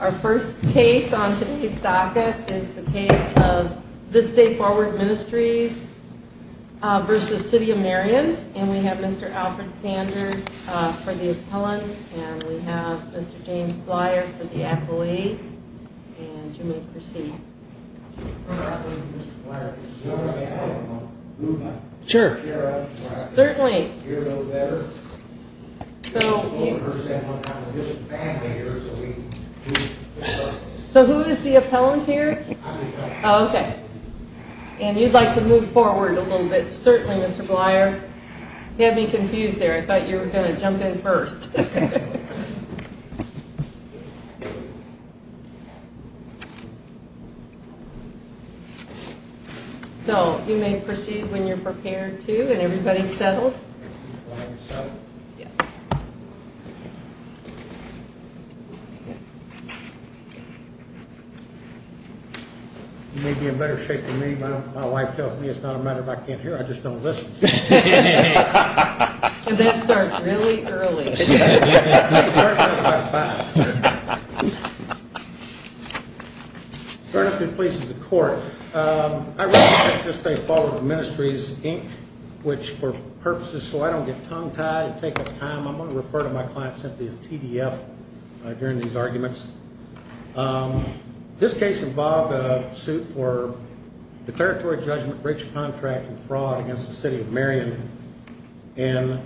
Our first case on today's docket is the case of This Day Forward Ministries v. City of So who is the appellant here? Oh, okay. And you'd like to move forward a little bit, certainly, Mr. Blyer. You had me confused there. I thought you were going to jump in first. So you may proceed when you're prepared to, and everybody's settled? You may be in better shape than me. My wife tells me it's not a matter of I can't hear, I just don't listen. And that starts really early. I'm going to refer to my client simply as TDF during these arguments. This case involved a suit for declaratory judgment, breach of contract and fraud against the City of Marion. And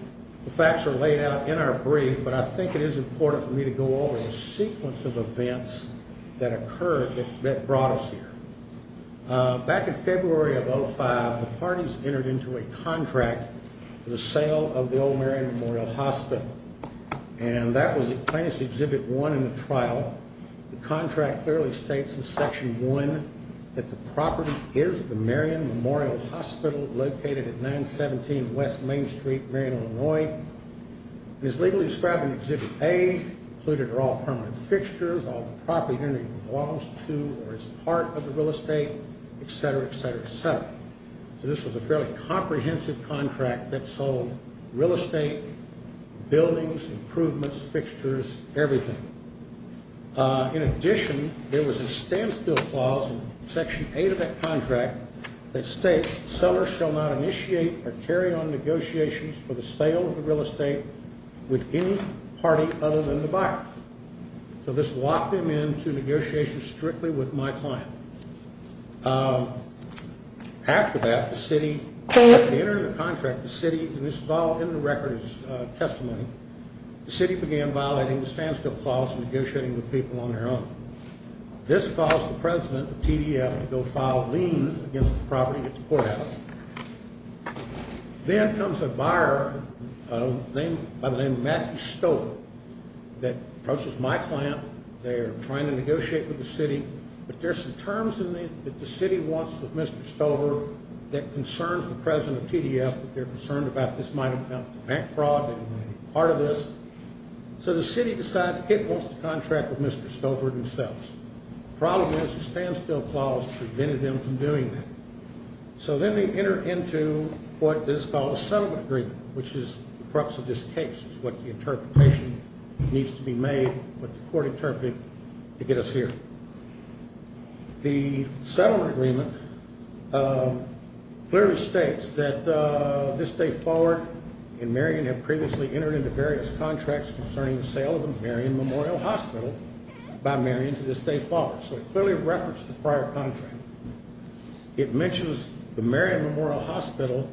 the facts are laid out in our brief, but I think it is important for me to go over the sequence of events that occurred that brought us here. Back in February of 2005, the parties entered into a contract for the sale of the old Marion Memorial Hospital. And that was Plaintiff's Exhibit 1 in the trial. The contract clearly states in Section 1 that the property is the Marion Memorial Hospital located at 917 West Main Street, Marion, Illinois. It is legally described in Exhibit A, included are all permanent fixtures, all the property that belongs to or is part of the real estate, etc., etc., etc. So this was a fairly comprehensive contract that sold real estate, buildings, improvements, fixtures, everything. In addition, there was a standstill clause in Section 8 of that contract that states sellers shall not initiate or carry on negotiations for the sale of the real estate with any party other than the buyer. So this locked them into negotiations strictly with my client. After that, the City entered into a contract, the City, and this is all in the record as testimony, the City began violating the standstill clause and negotiating with people on their own. This caused the President of TDF to go file liens against the property at the courthouse. Then comes a buyer by the name of Matthew Stover that approaches my client. They are trying to negotiate with the City, but there's some terms in there that the City wants with Mr. Stover that concerns the President of TDF, that they're concerned about this might have been bank fraud and part of this. So the City decides it wants to contract with Mr. Stover themselves. The problem is the standstill clause prevented them from doing that. So then they enter into what is called a settlement agreement, which is the preface of this case. It's what the interpretation needs to be made, what the court interpreted, to get us here. The settlement agreement clearly states that this day forward, and Marion had previously entered into various contracts concerning the sale of the Marion Memorial Hospital by Marion to this day forward, so it clearly referenced the prior contract. It mentions the Marion Memorial Hospital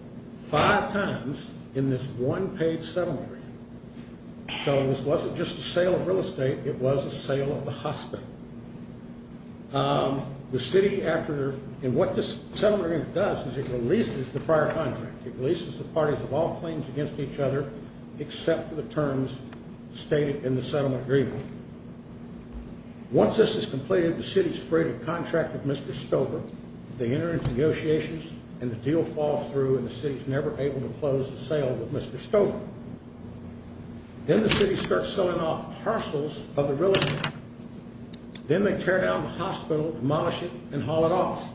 five times in this one-page settlement agreement. So this wasn't just a sale of real estate, it was a sale of the hospital. The City, after, and what this settlement agreement does is it releases the prior contract. It releases the parties of all claims against each other except for the terms stated in the settlement agreement. Once this is completed, the City is free to contract with Mr. Stover. They enter into negotiations, and the deal falls through, and the City is never able to close the sale with Mr. Stover. Then the City starts selling off parcels of the real estate. Then they tear down the hospital, demolish it, and haul it off.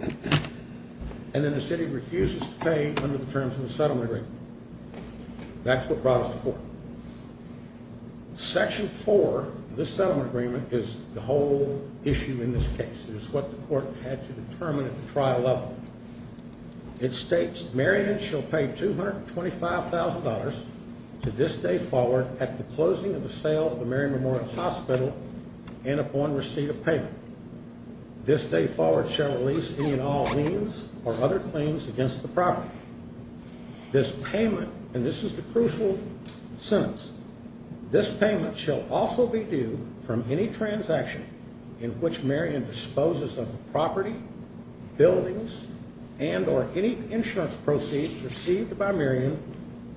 And then the City refuses to pay under the terms of the settlement agreement. That's what brought us to court. Section 4 of this settlement agreement is the whole issue in this case. It is what the court had to determine at the trial level. It states, Marion shall pay $225,000 to this day forward at the closing of the sale of the Marion Memorial Hospital and upon receipt of payment. This day forward shall release any and all liens or other claims against the property. This payment, and this is the crucial sentence, this payment shall also be due from any transaction in which Marion disposes of the property, buildings, and or any insurance proceeds received by Marion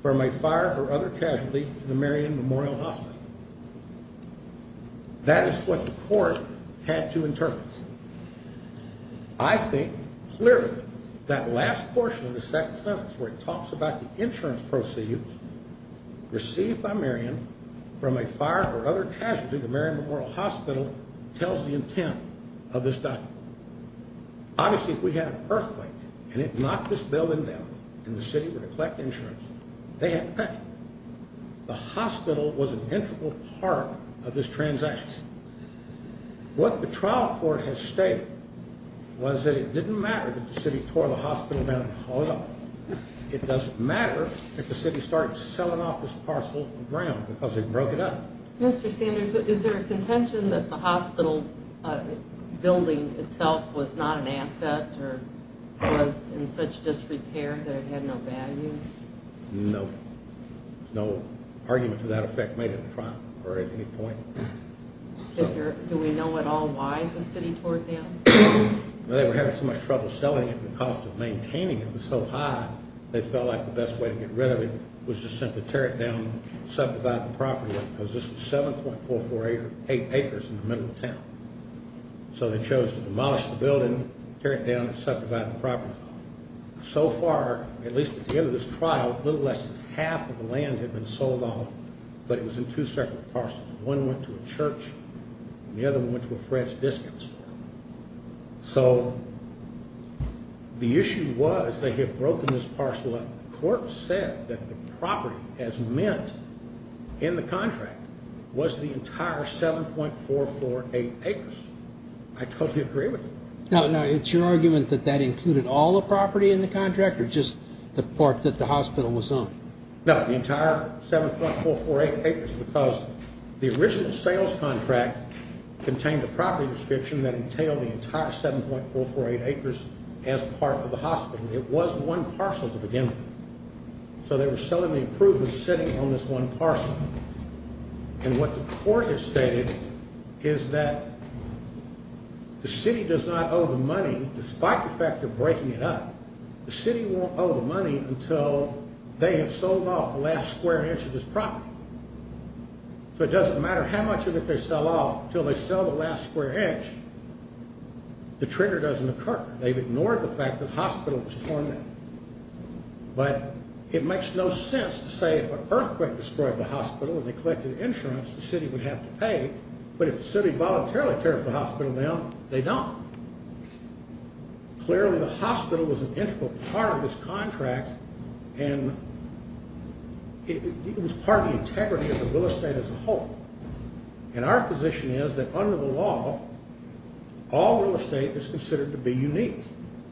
from a fire or other casualty in the Marion Memorial Hospital. That is what the court had to interpret. I think clearly that last portion of the second sentence where it talks about the insurance proceeds received by Marion from a fire or other casualty in the Marion Memorial Hospital tells the intent of this document. Obviously if we had an earthquake and it knocked this building down and the City were to collect insurance, they had to pay. The hospital was an integral part of this transaction. What the trial court has stated was that it didn't matter that the City tore the hospital down at all. It doesn't matter if the City started selling off this parcel of ground because they broke it up. Mr. Sanders, is there a contention that the hospital building itself was not an asset or was in such disrepair that it had no value? No. There's no argument to that effect made in the trial court at any point. Do we know at all why the City tore it down? They were having so much trouble selling it and the cost of maintaining it was so high they felt like the best way to get rid of it was to simply tear it down and subdivide the property because this was 7.448 acres in the middle of town. So they chose to demolish the building, tear it down, and subdivide the property. So far, at least at the end of this trial, a little less than half of the land had been sold off, but it was in two separate parcels. One went to a church and the other one went to a friend's discount store. So the issue was they had broken this parcel up. The court said that the property as meant in the contract was the entire 7.448 acres. I totally agree with you. Now, it's your argument that that included all the property in the contract or just the part that the hospital was on? No, the entire 7.448 acres because the original sales contract contained a property description that entailed the entire 7.448 acres as part of the hospital. It was one parcel to begin with. So they were selling the approved and sitting on this one parcel. And what the court has stated is that the city does not owe the money, despite the fact they're breaking it up, the city won't owe the money until they have sold off the last square inch of this property. So it doesn't matter how much of it they sell off until they sell the last square inch, the trigger doesn't occur. They've ignored the fact that the hospital was torn down. But it makes no sense to say if an earthquake destroyed the hospital and they collected insurance, the city would have to pay. But if the city voluntarily tears the hospital down, they don't. Clearly, the hospital was an integral part of this contract, and it was part of the integrity of the real estate as a whole. And our position is that under the law, all real estate is considered to be unique.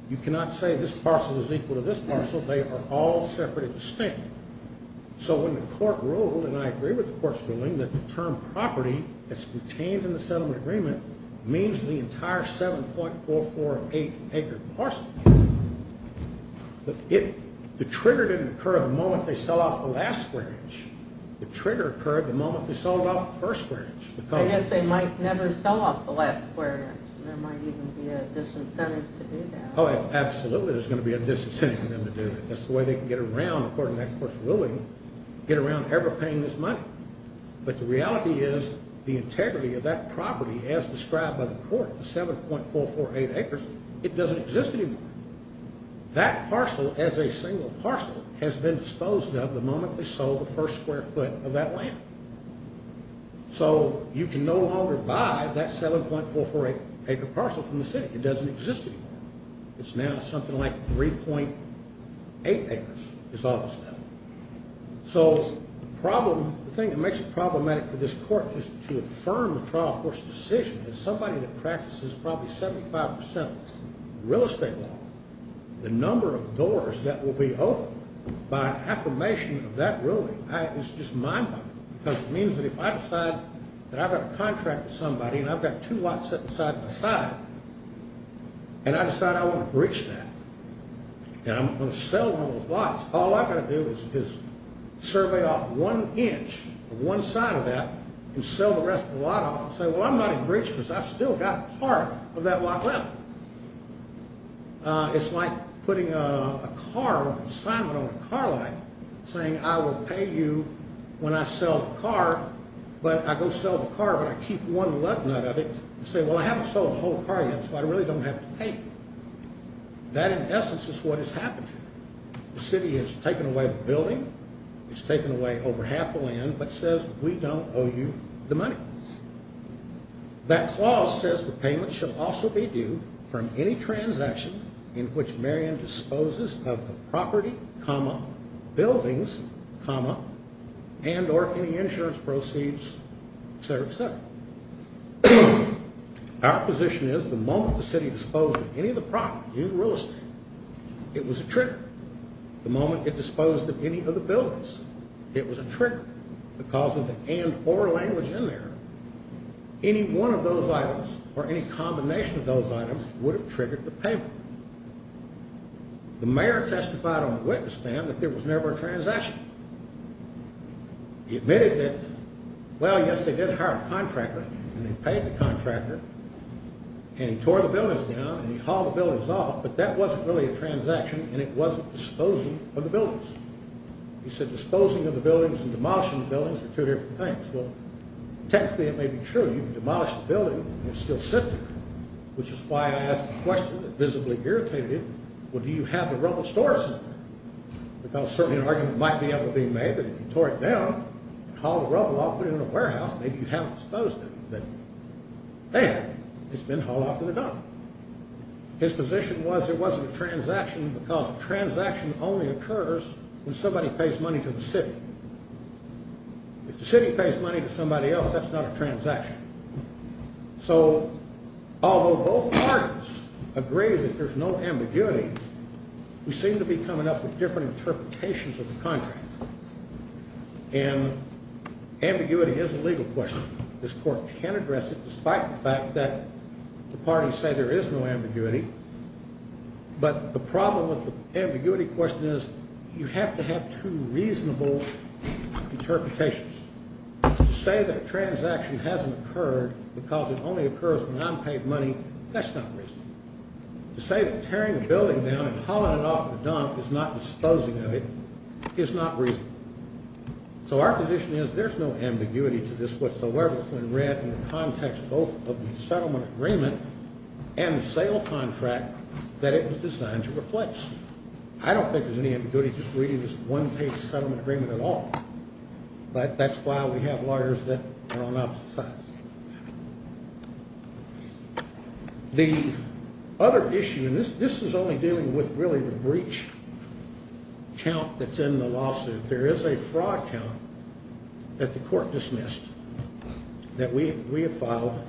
You cannot say this parcel is equal to this parcel. They are all separate and distinct. So when the court ruled, and I agree with the court's ruling, that the term property that's retained in the settlement agreement means the entire 7.448-acre parcel, the trigger didn't occur the moment they sell off the last square inch. The trigger occurred the moment they sold off the first square inch. I guess they might never sell off the last square inch. There might even be a disincentive to do that. Oh, absolutely, there's going to be a disincentive for them to do that. That's the way they can get around, according to that court's ruling, get around ever paying this money. But the reality is the integrity of that property, as described by the court, the 7.448 acres, it doesn't exist anymore. That parcel as a single parcel has been disposed of the moment they sold the first square foot of that land. So you can no longer buy that 7.448-acre parcel from the city. It doesn't exist anymore. It's now something like 3.8 acres is all that's left. So the thing that makes it problematic for this court is to affirm the trial court's decision. As somebody that practices probably 75% real estate law, the number of doors that will be opened by an affirmation of that ruling, it's just mind-boggling. Because it means that if I decide that I've got a contract with somebody and I've got two lots set side-by-side, and I decide I want to breach that, and I'm going to sell one of those lots, all I've got to do is survey off one inch of one side of that and sell the rest of the lot off and say, well, I'm not going to breach because I've still got part of that lot left. It's like putting a car, a sign on a car light, saying I will pay you when I sell the car, but I go sell the car, but I keep one left nut of it, and say, well, I haven't sold the whole car yet, so I really don't have to pay you. That, in essence, is what has happened here. The city has taken away the building. It's taken away over half a land, but says we don't owe you the money. That clause says the payment shall also be due from any transaction in which Marion disposes of the property, buildings, and or any insurance proceeds, et cetera, et cetera. Our position is the moment the city disposed of any of the property, any of the real estate, it was a trigger. The moment it disposed of any of the buildings, it was a trigger. Because of the and or language in there, any one of those items or any combination of those items would have triggered the payment. The mayor testified on the witness stand that there was never a transaction. He admitted that, well, yes, they did hire a contractor, and they paid the contractor, and he tore the buildings down, and he hauled the buildings off, but that wasn't really a transaction, and it wasn't disposing of the buildings. He said disposing of the buildings and demolishing the buildings are two different things. Well, technically it may be true. You can demolish the building and it's still sitting there, which is why I asked the question that visibly irritated him, well, do you have the rubble stored somewhere? Because certainly an argument might be able to be made that if you tore it down and hauled the rubble off and put it in a warehouse, maybe you haven't disposed of it, then, bam, it's been hauled off in the dump. His position was there wasn't a transaction because a transaction only occurs when somebody pays money to the city. If the city pays money to somebody else, that's not a transaction. So although both parties agree that there's no ambiguity, we seem to be coming up with different interpretations of the contract, and ambiguity is a legal question. This court can address it despite the fact that the parties say there is no ambiguity, but the problem with the ambiguity question is you have to have two reasonable interpretations. To say that a transaction hasn't occurred because it only occurs when I'm paid money, that's not reasonable. To say that tearing a building down and hauling it off in the dump is not disposing of it is not reasonable. So our position is there's no ambiguity to this whatsoever when read in the context both of the settlement agreement and the sale contract that it was designed to replace. I don't think there's any ambiguity just reading this one-page settlement agreement at all, but that's why we have lawyers that are on opposite sides. The other issue, and this is only dealing with really the breach count that's in the lawsuit. There is a fraud count that the court dismissed that we have filed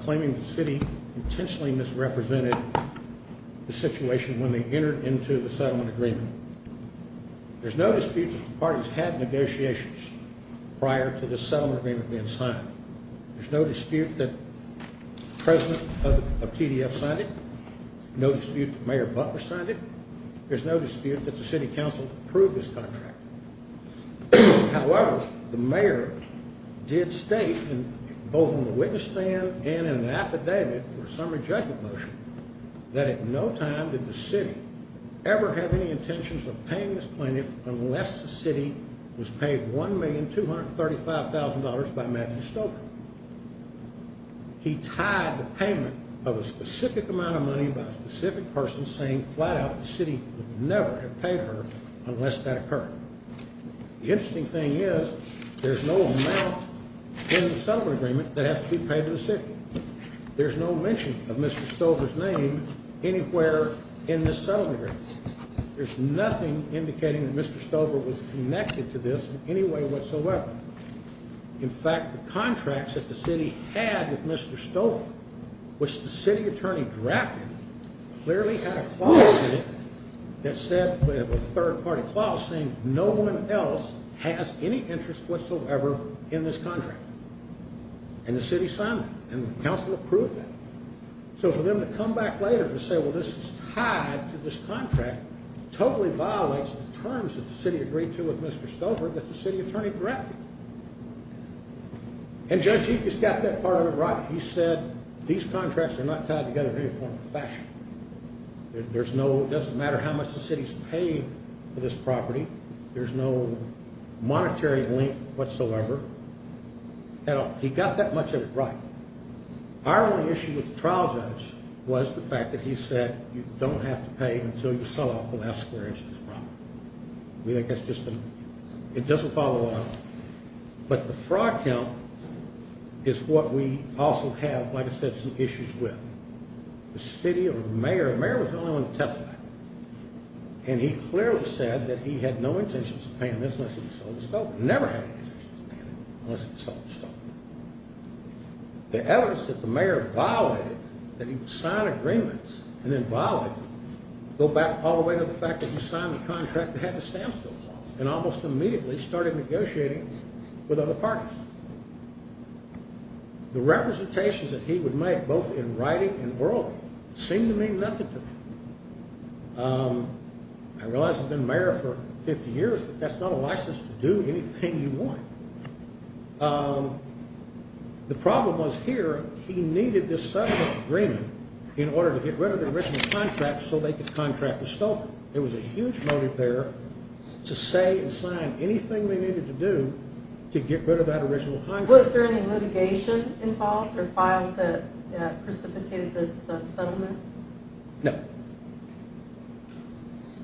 claiming the city intentionally misrepresented the situation when they entered into the settlement agreement. There's no dispute that the parties had negotiations prior to the settlement agreement being signed. There's no dispute that the president of TDF signed it. No dispute that Mayor Butler signed it. There's no dispute that the city council approved this contract. However, the mayor did state both in the witness stand and in the affidavit for a summary judgment motion that at no time did the city ever have any intentions of paying this plaintiff unless the city was paid $1,235,000 by Matthew Stoker. He tied the payment of a specific amount of money by a specific person saying flat out the city would never have paid her unless that occurred. The interesting thing is there's no amount in the settlement agreement that has to be paid to the city. There's no mention of Mr. Stoker's name anywhere in this settlement agreement. There's nothing indicating that Mr. Stoker was connected to this in any way whatsoever. In fact, the contracts that the city had with Mr. Stoker, which the city attorney drafted, clearly had a clause in it that said, a third-party clause, saying no one else has any interest whatsoever in this contract. And the city signed that, and the council approved that. So for them to come back later and say, well, this is tied to this contract, totally violates the terms that the city agreed to with Mr. Stoker that the city attorney drafted. And Judge Eekes got that part of it right. He said these contracts are not tied together in any form or fashion. It doesn't matter how much the city's paid for this property. There's no monetary link whatsoever. He got that much of it right. Our only issue with the trial judge was the fact that he said you don't have to pay until you sell off the last square inch of this property. We think that's just a, it doesn't follow on. But the fraud count is what we also have, like I said, some issues with. The city or the mayor, the mayor was the only one to testify. And he clearly said that he had no intentions of paying this unless he sold it to Stoker. Never had any intentions of paying it unless he sold it to Stoker. The evidence that the mayor violated, that he would sign agreements and then violate them, go back all the way to the fact that he signed the contract that had the stamp still clause and almost immediately started negotiating with other parties. The representations that he would make, both in writing and verbally, seemed to mean nothing to me. I realize I've been mayor for 50 years, but that's not a license to do anything you want. The problem was here he needed this settlement agreement in order to get rid of the original contract so they could contract with Stoker. So there was a huge motive there to say and sign anything they needed to do to get rid of that original contract. Was there any litigation involved or filed that precipitated this settlement? No.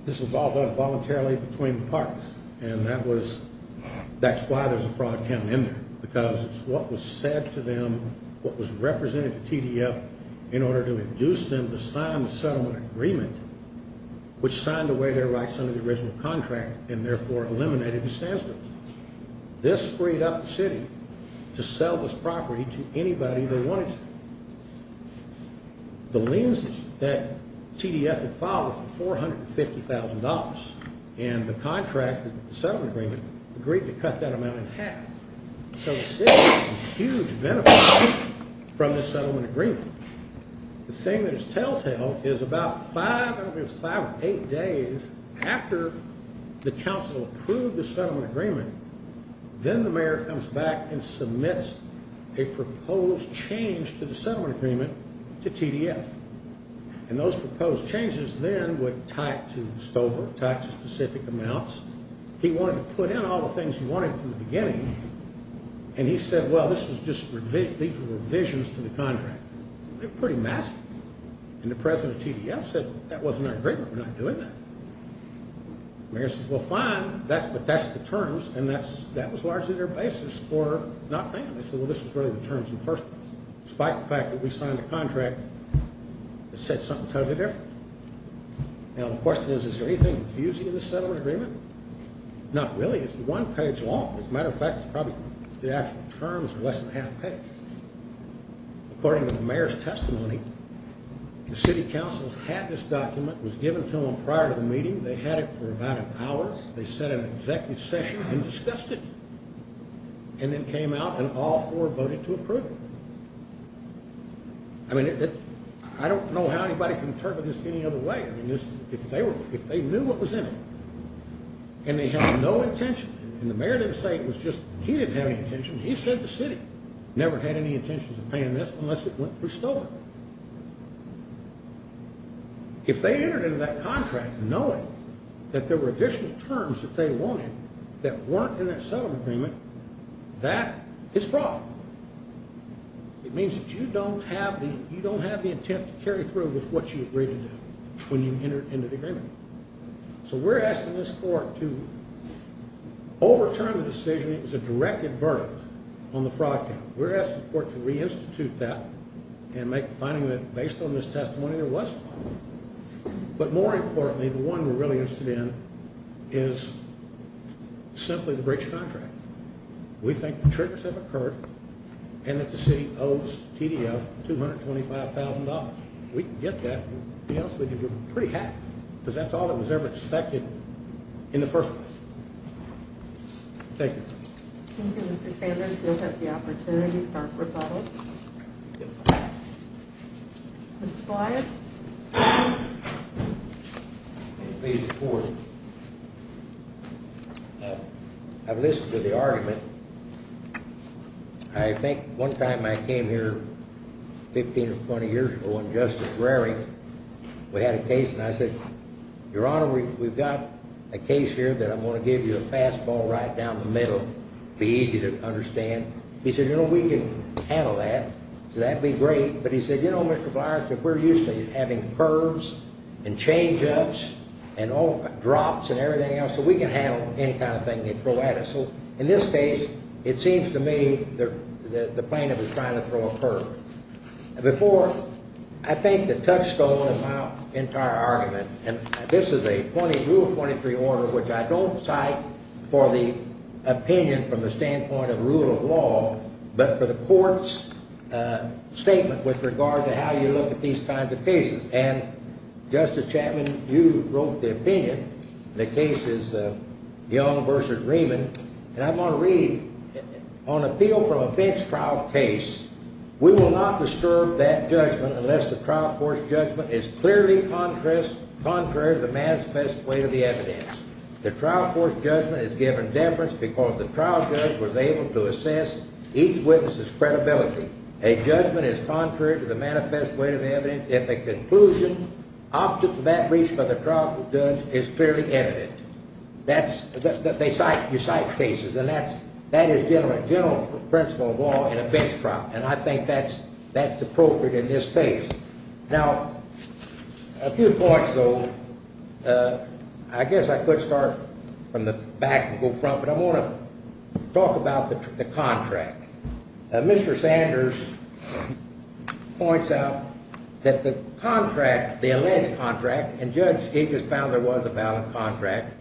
This was all done voluntarily between the parties. And that was, that's why there's a fraud count in there because it's what was said to them, what was represented to TDF in order to induce them to sign the settlement agreement which signed away their rights under the original contract and therefore eliminated the stamp. This freed up the city to sell this property to anybody they wanted to. The liens that TDF had filed were for $450,000. And the contract, the settlement agreement, agreed to cut that amount in half. So the city got some huge benefits from this settlement agreement. The thing that is telltale is about five, I don't know if it was five or eight days, after the council approved the settlement agreement, then the mayor comes back and submits a proposed change to the settlement agreement to TDF. And those proposed changes then would tie it to Stoker, tie it to specific amounts. He wanted to put in all the things he wanted from the beginning. And he said, well, these were revisions to the contract. They were pretty massive. And the president of TDF said, that wasn't our agreement. We're not doing that. The mayor says, well, fine, but that's the terms, and that was largely their basis for not paying them. They said, well, this was really the terms in the first place. Despite the fact that we signed a contract that said something totally different. Now, the question is, is there anything confusing in the settlement agreement? Not really. It's one page long. As a matter of fact, it's probably the actual terms are less than half a page. According to the mayor's testimony, the city council had this document. It was given to them prior to the meeting. They had it for about an hour. They sat in an executive session and discussed it. And then came out and all four voted to approve it. I mean, I don't know how anybody can interpret this any other way. If they knew what was in it, and they had no intention, and the mayor didn't say it was just, he didn't have any intention. He said the city never had any intentions of paying this unless it went through Stover. If they entered into that contract knowing that there were additional terms that they wanted that weren't in that settlement agreement, that is fraud. It means that you don't have the intent to carry through with what you agreed to do when you entered into the agreement. So we're asking this court to overturn the decision. It was a directed verdict on the fraud count. We're asking the court to reinstitute that and make the finding that based on this testimony, there was fraud. But more importantly, the one we're really interested in is simply the breach of contract. We think the triggers have occurred, and that the city owes TDF $225,000. If we can get that, we can get pretty happy, because that's all that was ever expected in the first place. Thank you. Thank you, Mr. Sanders. You'll have the opportunity for a rebuttal. Mr. Flyer. Please report. I've listened to the argument. I think one time I came here 15 or 20 years ago on Justice Rarey. We had a case, and I said, Your Honor, we've got a case here that I'm going to give you a fastball right down the middle. Be easy to understand. He said, You know, we can handle that. So that'd be great. But he said, You know, Mr. Flyer, we're used to having curves and change-ups and drops and everything else. So we can handle any kind of thing they throw at us. So in this case, it seems to me the plaintiff is trying to throw a curve. Before, I think the touchstone of my entire argument, and this is a Rule 23 order, which I don't cite for the opinion from the standpoint of rule of law, but for the court's statement with regard to how you look at these kinds of cases. And, Justice Chapman, you wrote the opinion. The case is Young v. Riemann. And I want to read, On appeal from a bench trial case, we will not disturb that judgment unless the trial court's judgment is clearly contrary to the manifest way of the evidence. The trial court's judgment is given deference because the trial judge was able to assess each witness's credibility. A judgment is contrary to the manifest way of the evidence if a conclusion opposite to that reached by the trial judge is clearly evident. You cite cases, and that is general principle of law in a bench trial. And I think that's appropriate in this case. Now, a few points, though. I guess I could start from the back and go front, but I want to talk about the contract. Mr. Sanders points out that the contract, the alleged contract, and Judge Higgins found there was a valid contract.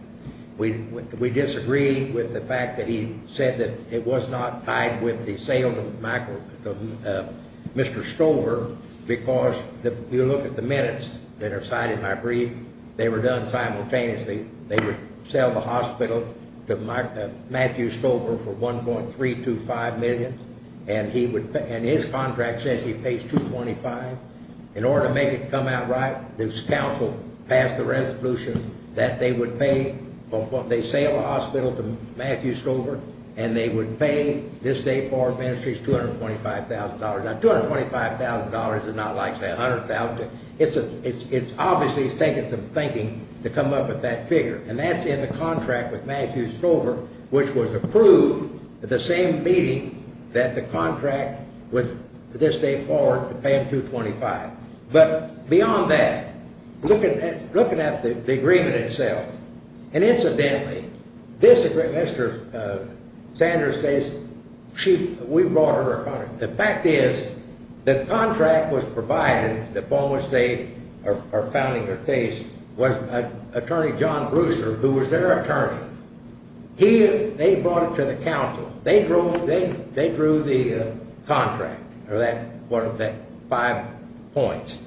We disagree with the fact that he said that it was not tied with the sale of Mr. Stover because if you look at the minutes that are cited in my brief, they were done simultaneously. They would sell the hospital to Matthew Stover for $1.325 million, and his contract says he pays $225. In order to make it come out right, this counsel passed the resolution that they would pay, they sale the hospital to Matthew Stover, and they would pay this day forward ministries $225,000. Now, $225,000 is not like, say, $100,000. It's obviously taken some thinking to come up with that figure, and that's in the contract with Matthew Stover, which was approved at the same meeting that the contract with this day forward to pay him $225,000. But beyond that, looking at the agreement itself, and incidentally, this Mr. Sanders says we brought her a contract. The fact is the contract was provided, the form which they are founding her case, was Attorney John Brewster, who was their attorney. They brought it to the counsel. They drew the contract, or one of the five points.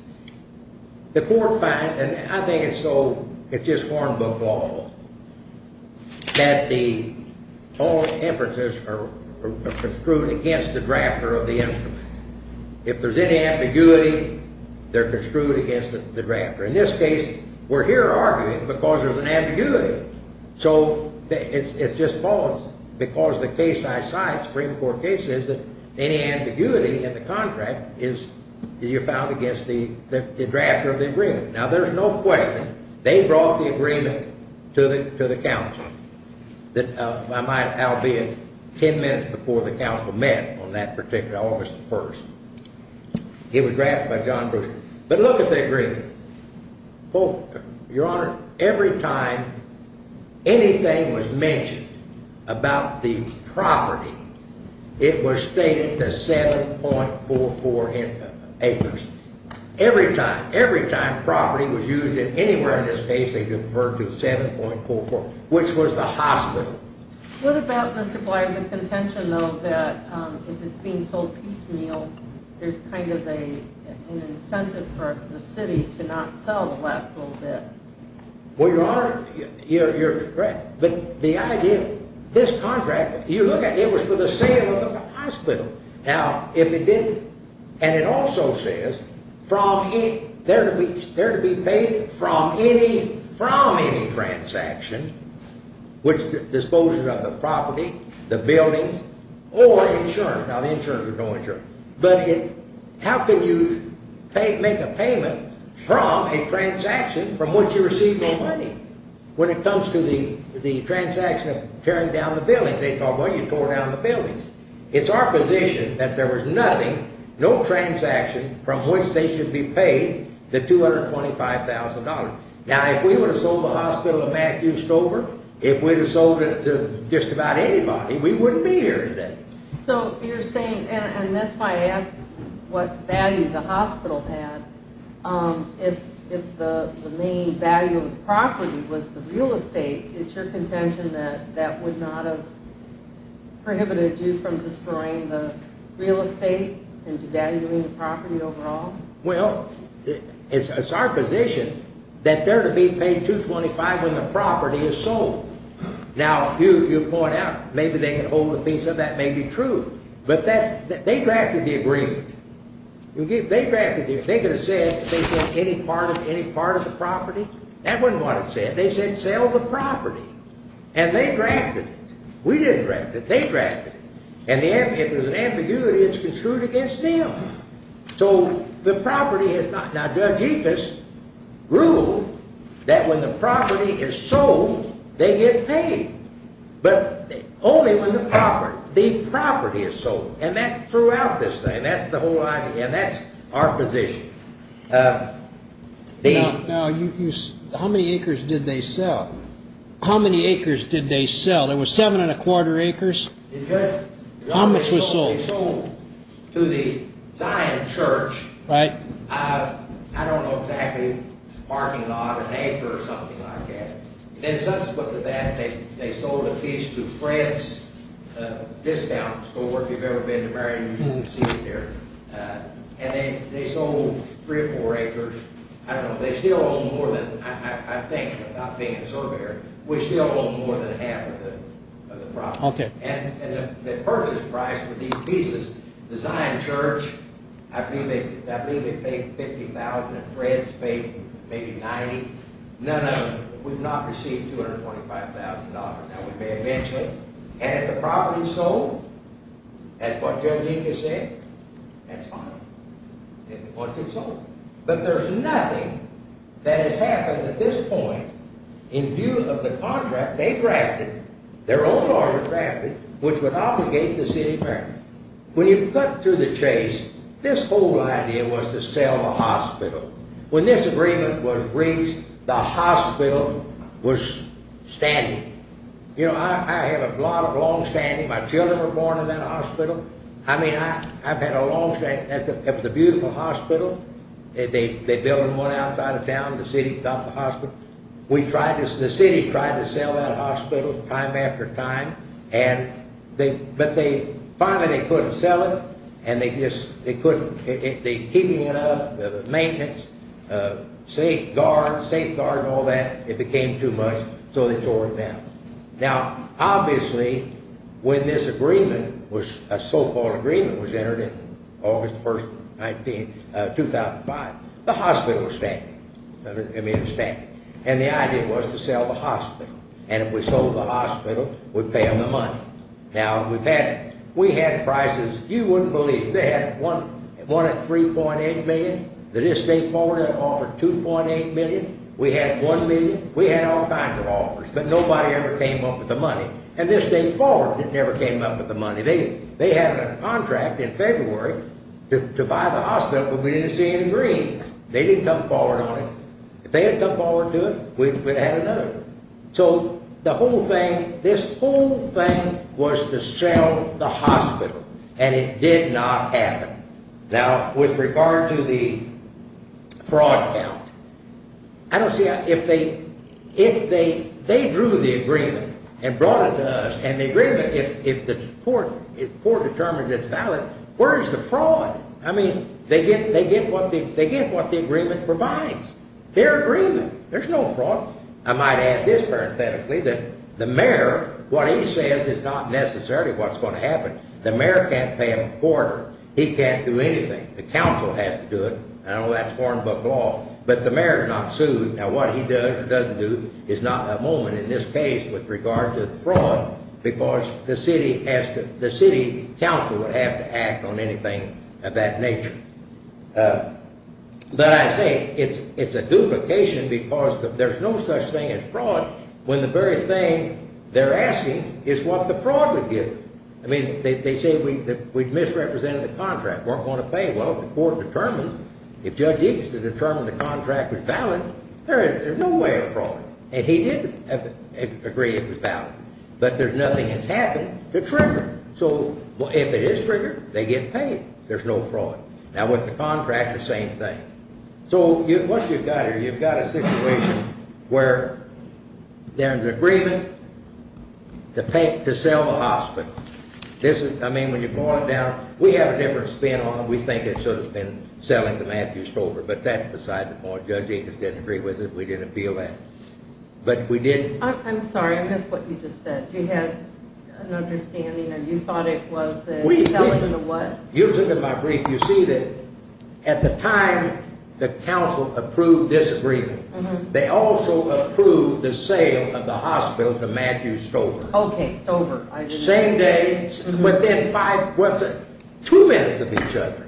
The court finds, and I think it's just form book law, that all inferences are construed against the drafter of the instrument. If there's any ambiguity, they're construed against the drafter. In this case, we're here arguing because there's an ambiguity. So it's just false because the case I cite, Supreme Court case, is that any ambiguity in the contract is you're found against the drafter of the agreement. Now, there's no question. They brought the agreement to the counsel. That might well be 10 minutes before the counsel met on that particular August 1st. It was drafted by John Brewster. But look at the agreement. Your Honor, every time anything was mentioned about the property, it was stated the 7.44 acres. Every time. Every time property was used in anywhere in this case, they deferred to 7.44, which was the hospital. What about, Mr. Blighter, the contention, though, that if it's being sold piecemeal, there's kind of an incentive for the city to not sell the last little bit? Well, Your Honor, you're correct. But the idea, this contract, you look at it, it was for the sale of the hospital. Now, if it didn't, and it also says there to be paid from any transaction, which disposes of the property, the building, or insurance. Now, the insurance is no insurance. But how can you make a payment from a transaction from which you receive no money? When it comes to the transaction of tearing down the buildings, they talk, well, you tore down the buildings. It's our position that there was nothing, no transaction from which they should be paid the $225,000. Now, if we would have sold the hospital to Matthew Stover, if we would have sold it to just about anybody, we wouldn't be here today. So you're saying, and that's why I asked what value the hospital had, if the main value of the property was the real estate, it's your contention that that would not have prohibited you from destroying the real estate and devaluing the property overall? Well, it's our position that there to be paid $225,000 when the property is sold. Now, you'll point out, maybe they can hold a piece of that may be true. But they drafted the agreement. They could have said they'd sell any part of the property. That wasn't what it said. They said sell the property. And they drafted it. We didn't draft it. They drafted it. And if there's an ambiguity, it's construed against them. So the property is not. Now, Judge Epus ruled that when the property is sold, they get paid. But only when the property is sold. And that's throughout this thing. And that's the whole idea. And that's our position. Now, how many acres did they sell? How many acres did they sell? It was 7 1⁄4 acres? Yes. How much was sold? They sold to the Zion Church. Right. I don't know exactly. A parking lot, an acre or something like that. Then subsequent to that, they sold a piece to Fred's Discount Store. If you've ever been to Marion, you've seen it there. And they sold three or four acres. I don't know. They still own more than, I think, without being a surveyor, we still own more than half of the property. Okay. And the purchase price for these pieces, the Zion Church, I believe they paid $50,000. And Fred's paid maybe $90,000. None of them. We've not received $225,000. Now, we may eventually. And if the property is sold, as what Judge Epus said, that's fine. Once it's sold. But there's nothing that has happened at this point in view of the contract they drafted, their own contract they drafted, which would obligate the city of Marion. When you cut through the chase, this whole idea was to sell the hospital. When this agreement was reached, the hospital was standing. You know, I have a lot of longstanding. My children were born in that hospital. I mean, I've had a longstanding. That's a beautiful hospital. They built them on the outside of town. The city got the hospital. The city tried to sell that hospital time after time. But finally they couldn't sell it. And they just couldn't. Keeping it up, the maintenance, safeguards and all that, it became too much. So they tore it down. Now, obviously, when this agreement, a so-called agreement, was entered in August 1st, 2005, the hospital was standing. I mean, it was standing. And the idea was to sell the hospital. And if we sold the hospital, we'd pay them the money. Now, we had prices you wouldn't believe. They had one at $3.8 million. The state forwarded an offer at $2.8 million. We had $1 million. We had all kinds of offers. But nobody ever came up with the money. And the state forwarded never came up with the money. They had a contract in February to buy the hospital, but we didn't see any green. They didn't come forward on it. If they had come forward to it, we'd have had another. So the whole thing, this whole thing was to sell the hospital. And it did not happen. Now, with regard to the fraud count, I don't see how if they drew the agreement and brought it to us, and the agreement, if the court determines it's valid, where's the fraud? I mean, they get what the agreement provides. They're agreeing. There's no fraud. I might add this parenthetically, that the mayor, what he says is not necessarily what's going to happen. The mayor can't pay him a quarter. He can't do anything. The council has to do it. And all that's foreign book law. But the mayor's not sued. Now, what he does or doesn't do is not a moment in this case with regard to the fraud, because the city council would have to act on anything of that nature. But I say it's a duplication because there's no such thing as fraud when the very thing they're asking is what the fraud would give. I mean, they say we've misrepresented the contract. We're going to pay. Well, if the court determines, if Judge Iggs determined the contract was valid, there's no way of fraud. And he did agree it was valid. But nothing has happened to trigger it. So if it is triggered, they get paid. There's no fraud. Now, with the contract, the same thing. So what you've got here, you've got a situation where there's agreement to sell the hospital. I mean, when you boil it down, we have a different spin on it. We think it should have been selling to Matthew Stover. But that's beside the point. Judge Iggs didn't agree with it. We didn't appeal that. But we did. I'm sorry. I missed what you just said. You had an understanding, and you thought it was the selling of what? You look at my brief. You see that at the time the council approved this agreement, they also approved the sale of the hospital to Matthew Stover. Okay, Stover. Same day, within two minutes of each other.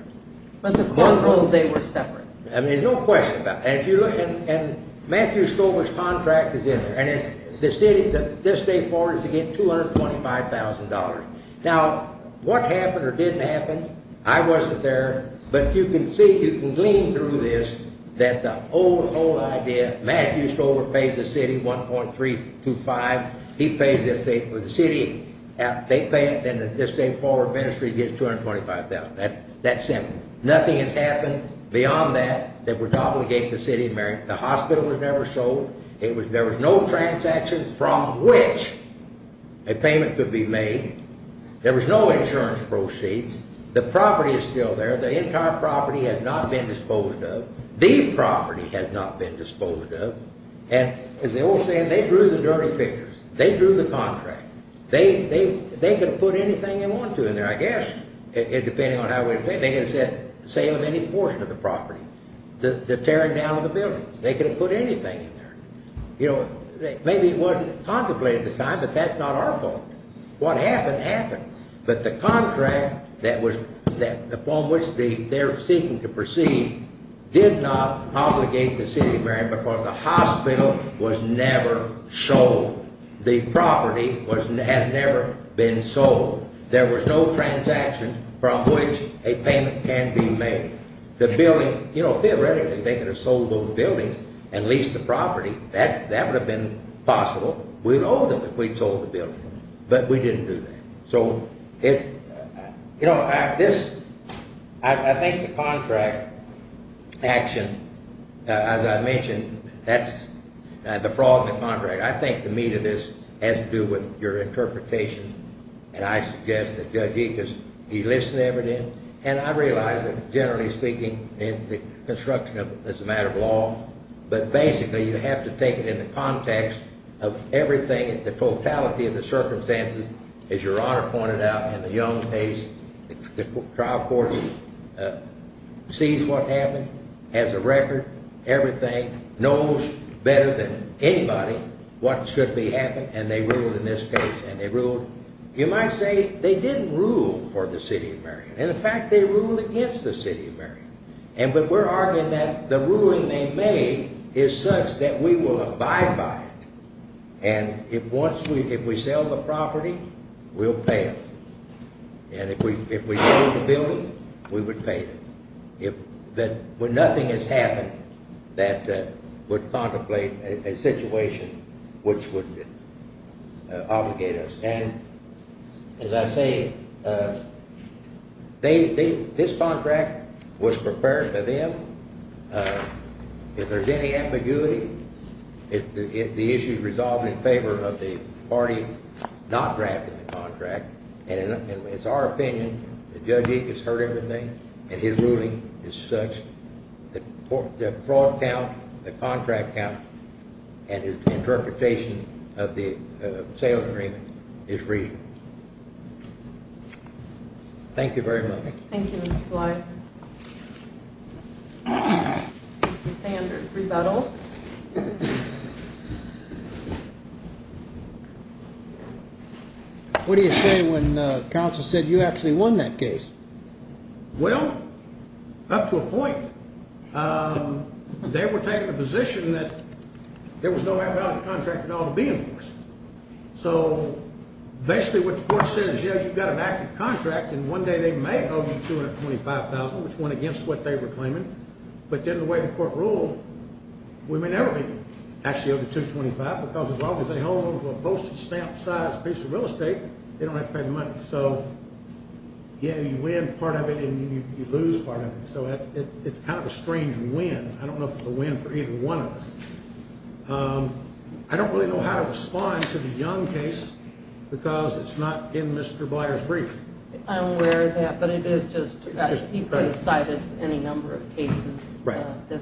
But the controls, they were separate. I mean, no question about it. And Matthew Stover's contract is in there. And the city, this day forward, is to get $225,000. Now, what happened or didn't happen, I wasn't there. But you can see, you can glean through this, that the whole idea, Matthew Stover pays the city 1.325. He pays the city. They pay it, and this day forward, ministry gets $225,000. That's simple. Nothing has happened beyond that that would obligate the city. The hospital was never sold. There was no transaction from which a payment could be made. There was no insurance proceeds. The property is still there. The entire property has not been disposed of. The property has not been disposed of. And as the old saying, they drew the dirty pictures. They drew the contract. They could have put anything they wanted to in there, I guess, depending on how it was paid. They could have said sale of any portion of the property, the tearing down of the buildings. They could have put anything in there. You know, maybe it wasn't contemplated at the time, but that's not our fault. What happened, happened. But the contract upon which they're seeking to proceed did not obligate the city of Marion because the hospital was never sold. The property has never been sold. There was no transaction from which a payment can be made. The building, you know, theoretically, they could have sold those buildings and leased the property. That would have been possible. We'd owe them if we'd sold the building, but we didn't do that. So, you know, I think the contract action, as I mentioned, that's the fraud in the contract. I think the meat of this has to do with your interpretation, and I suggest that Judge Ickes, he listened to everything. And I realize that, generally speaking, the construction of it is a matter of law. But basically, you have to take it in the context of everything, the totality of the circumstances. As Your Honor pointed out in the Young case, the trial court sees what happened, has a record, everything, knows better than anybody what should be happening. And they ruled in this case, and they ruled. You might say they didn't rule for the city of Marion. In fact, they ruled against the city of Marion. But we're arguing that the ruling they made is such that we will abide by it. And if we sell the property, we'll pay them. And if we sold the building, we would pay them. But nothing has happened that would contemplate a situation which would obligate us. And as I say, this contract was prepared by them. If there's any ambiguity, if the issue is resolved in favor of the party not drafting the contract, and it's our opinion that Judge Ickes heard everything, and his ruling is such that the fraud count, the contract count, and his interpretation of the sales agreement is reasonable. Thank you very much. Thank you, Mr. Bly. Mr. Sanders, rebuttal. What do you say when counsel said you actually won that case? Well, up to a point. They were taking a position that there was no value to the contract at all to be enforced. So basically what the court said is, yeah, you've got an active contract, and one day they may owe you $225,000, which went against what they were claiming. But then the way the court ruled, we may never be actually owed the $225,000 because as long as they hold on to a postage stamp-sized piece of real estate, they don't have to pay the money. So, yeah, you win part of it and you lose part of it. So it's kind of a strange win. I don't know if it's a win for either one of us. I don't really know how to respond to the Young case because it's not in Mr. Blyer's brief. I'm aware of that, but he could have cited any number of cases. Right. I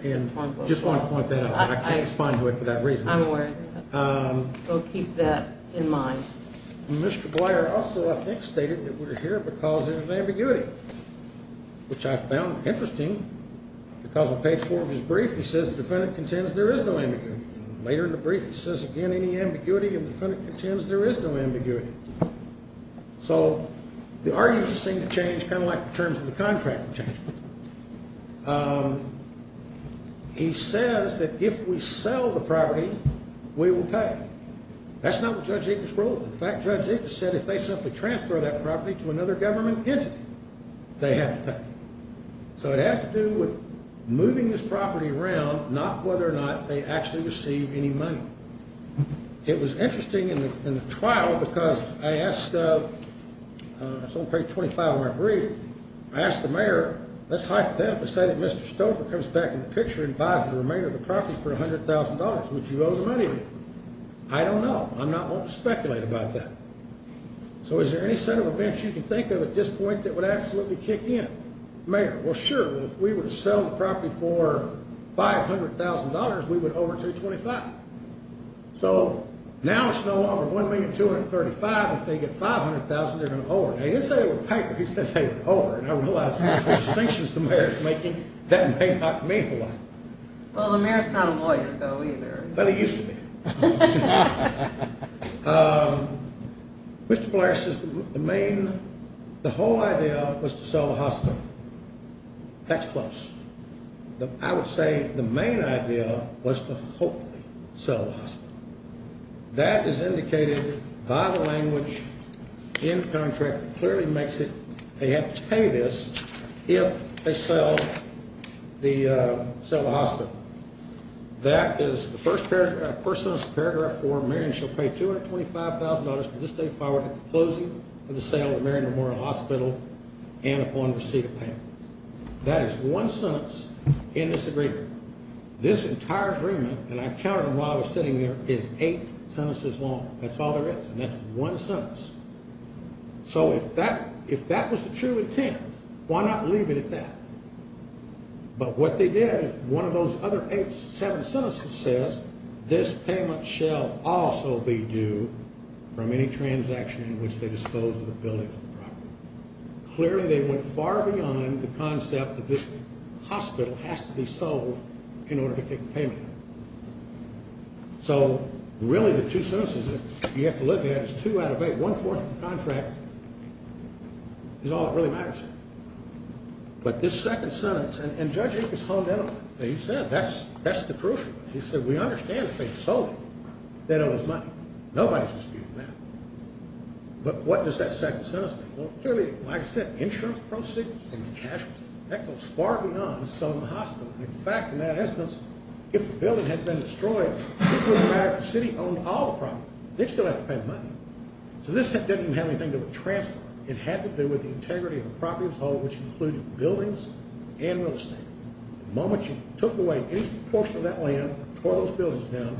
just want to point that out. I can't respond to it for that reason. I'm aware of that. So keep that in mind. Mr. Blyer also, I think, stated that we're here because there's an ambiguity, which I found interesting. Because on page 4 of his brief, he says the defendant contends there is no ambiguity. Later in the brief, he says again, any ambiguity, and the defendant contends there is no ambiguity. So the arguments seem to change kind of like the terms of the contract change. He says that if we sell the property, we will pay. That's not what Judge Ickes ruled. In fact, Judge Ickes said if they simply transfer that property to another government entity, they have to pay. So it has to do with moving this property around, not whether or not they actually receive any money. It was interesting in the trial because I asked, it's on page 25 of my brief, I asked the mayor, let's hypothetically say that Mr. Stover comes back in the picture and buys the remainder of the property for $100,000. Would you owe the money to him? I don't know. I'm not willing to speculate about that. So is there any set of events you can think of at this point that would absolutely kick in? Well, sure. If we were to sell the property for $500,000, we would owe her $225,000. So now it's no longer $1,235,000. If they get $500,000, they're going to owe her. He didn't say it with paper. He said they would owe her. And I realize the distinctions the mayor is making, that may not mean a lot. Well, the mayor is not a lawyer, though, either. But he used to be. Mr. Blair, the whole idea was to sell the hospital. That's close. I would say the main idea was to hopefully sell the hospital. That is indicated by the language in the contract that clearly makes it they have to pay this if they sell the hospital. That is the first sentence of the paragraph. For Marion, she'll pay $225,000 for this day forward at the closing of the sale of Marion Memorial Hospital and upon receipt of payment. That is one sentence in this agreement. This entire agreement, and I counted them while I was sitting here, is eight sentences long. That's all there is. And that's one sentence. So if that was the true intent, why not leave it at that? But what they did is one of those other eight, seven sentences says, This payment shall also be due from any transaction in which they dispose of the building or property. Clearly, they went far beyond the concept that this hospital has to be sold in order to take the payment. So, really, the two sentences that you have to look at is two out of eight. One-fourth of the contract is all that really matters. But this second sentence, and Judge Akers honed in on that. He said that's the crucial one. He said we understand if they sold it, they'd owe us money. Nobody's disputing that. But what does that second sentence mean? Well, clearly, like I said, insurance proceeds from the cash. That goes far beyond selling the hospital. In fact, in that instance, if the building had been destroyed, it wouldn't matter if the city owned all the property. They'd still have to pay the money. So this didn't even have anything to do with transfer. It had to do with the integrity of the property as a whole, which included buildings and real estate. The moment you took away any portion of that land, tore those buildings down,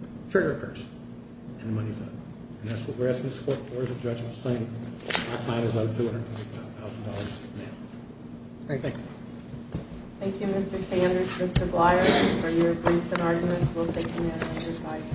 the trigger occurs, and the money's out. And that's what we're asking the court for as a judgment, saying I might as well owe $225,000 now. All right, thank you. Thank you, Mr. Sanders. Mr. Blyer, for your briefs and arguments. We'll take them now.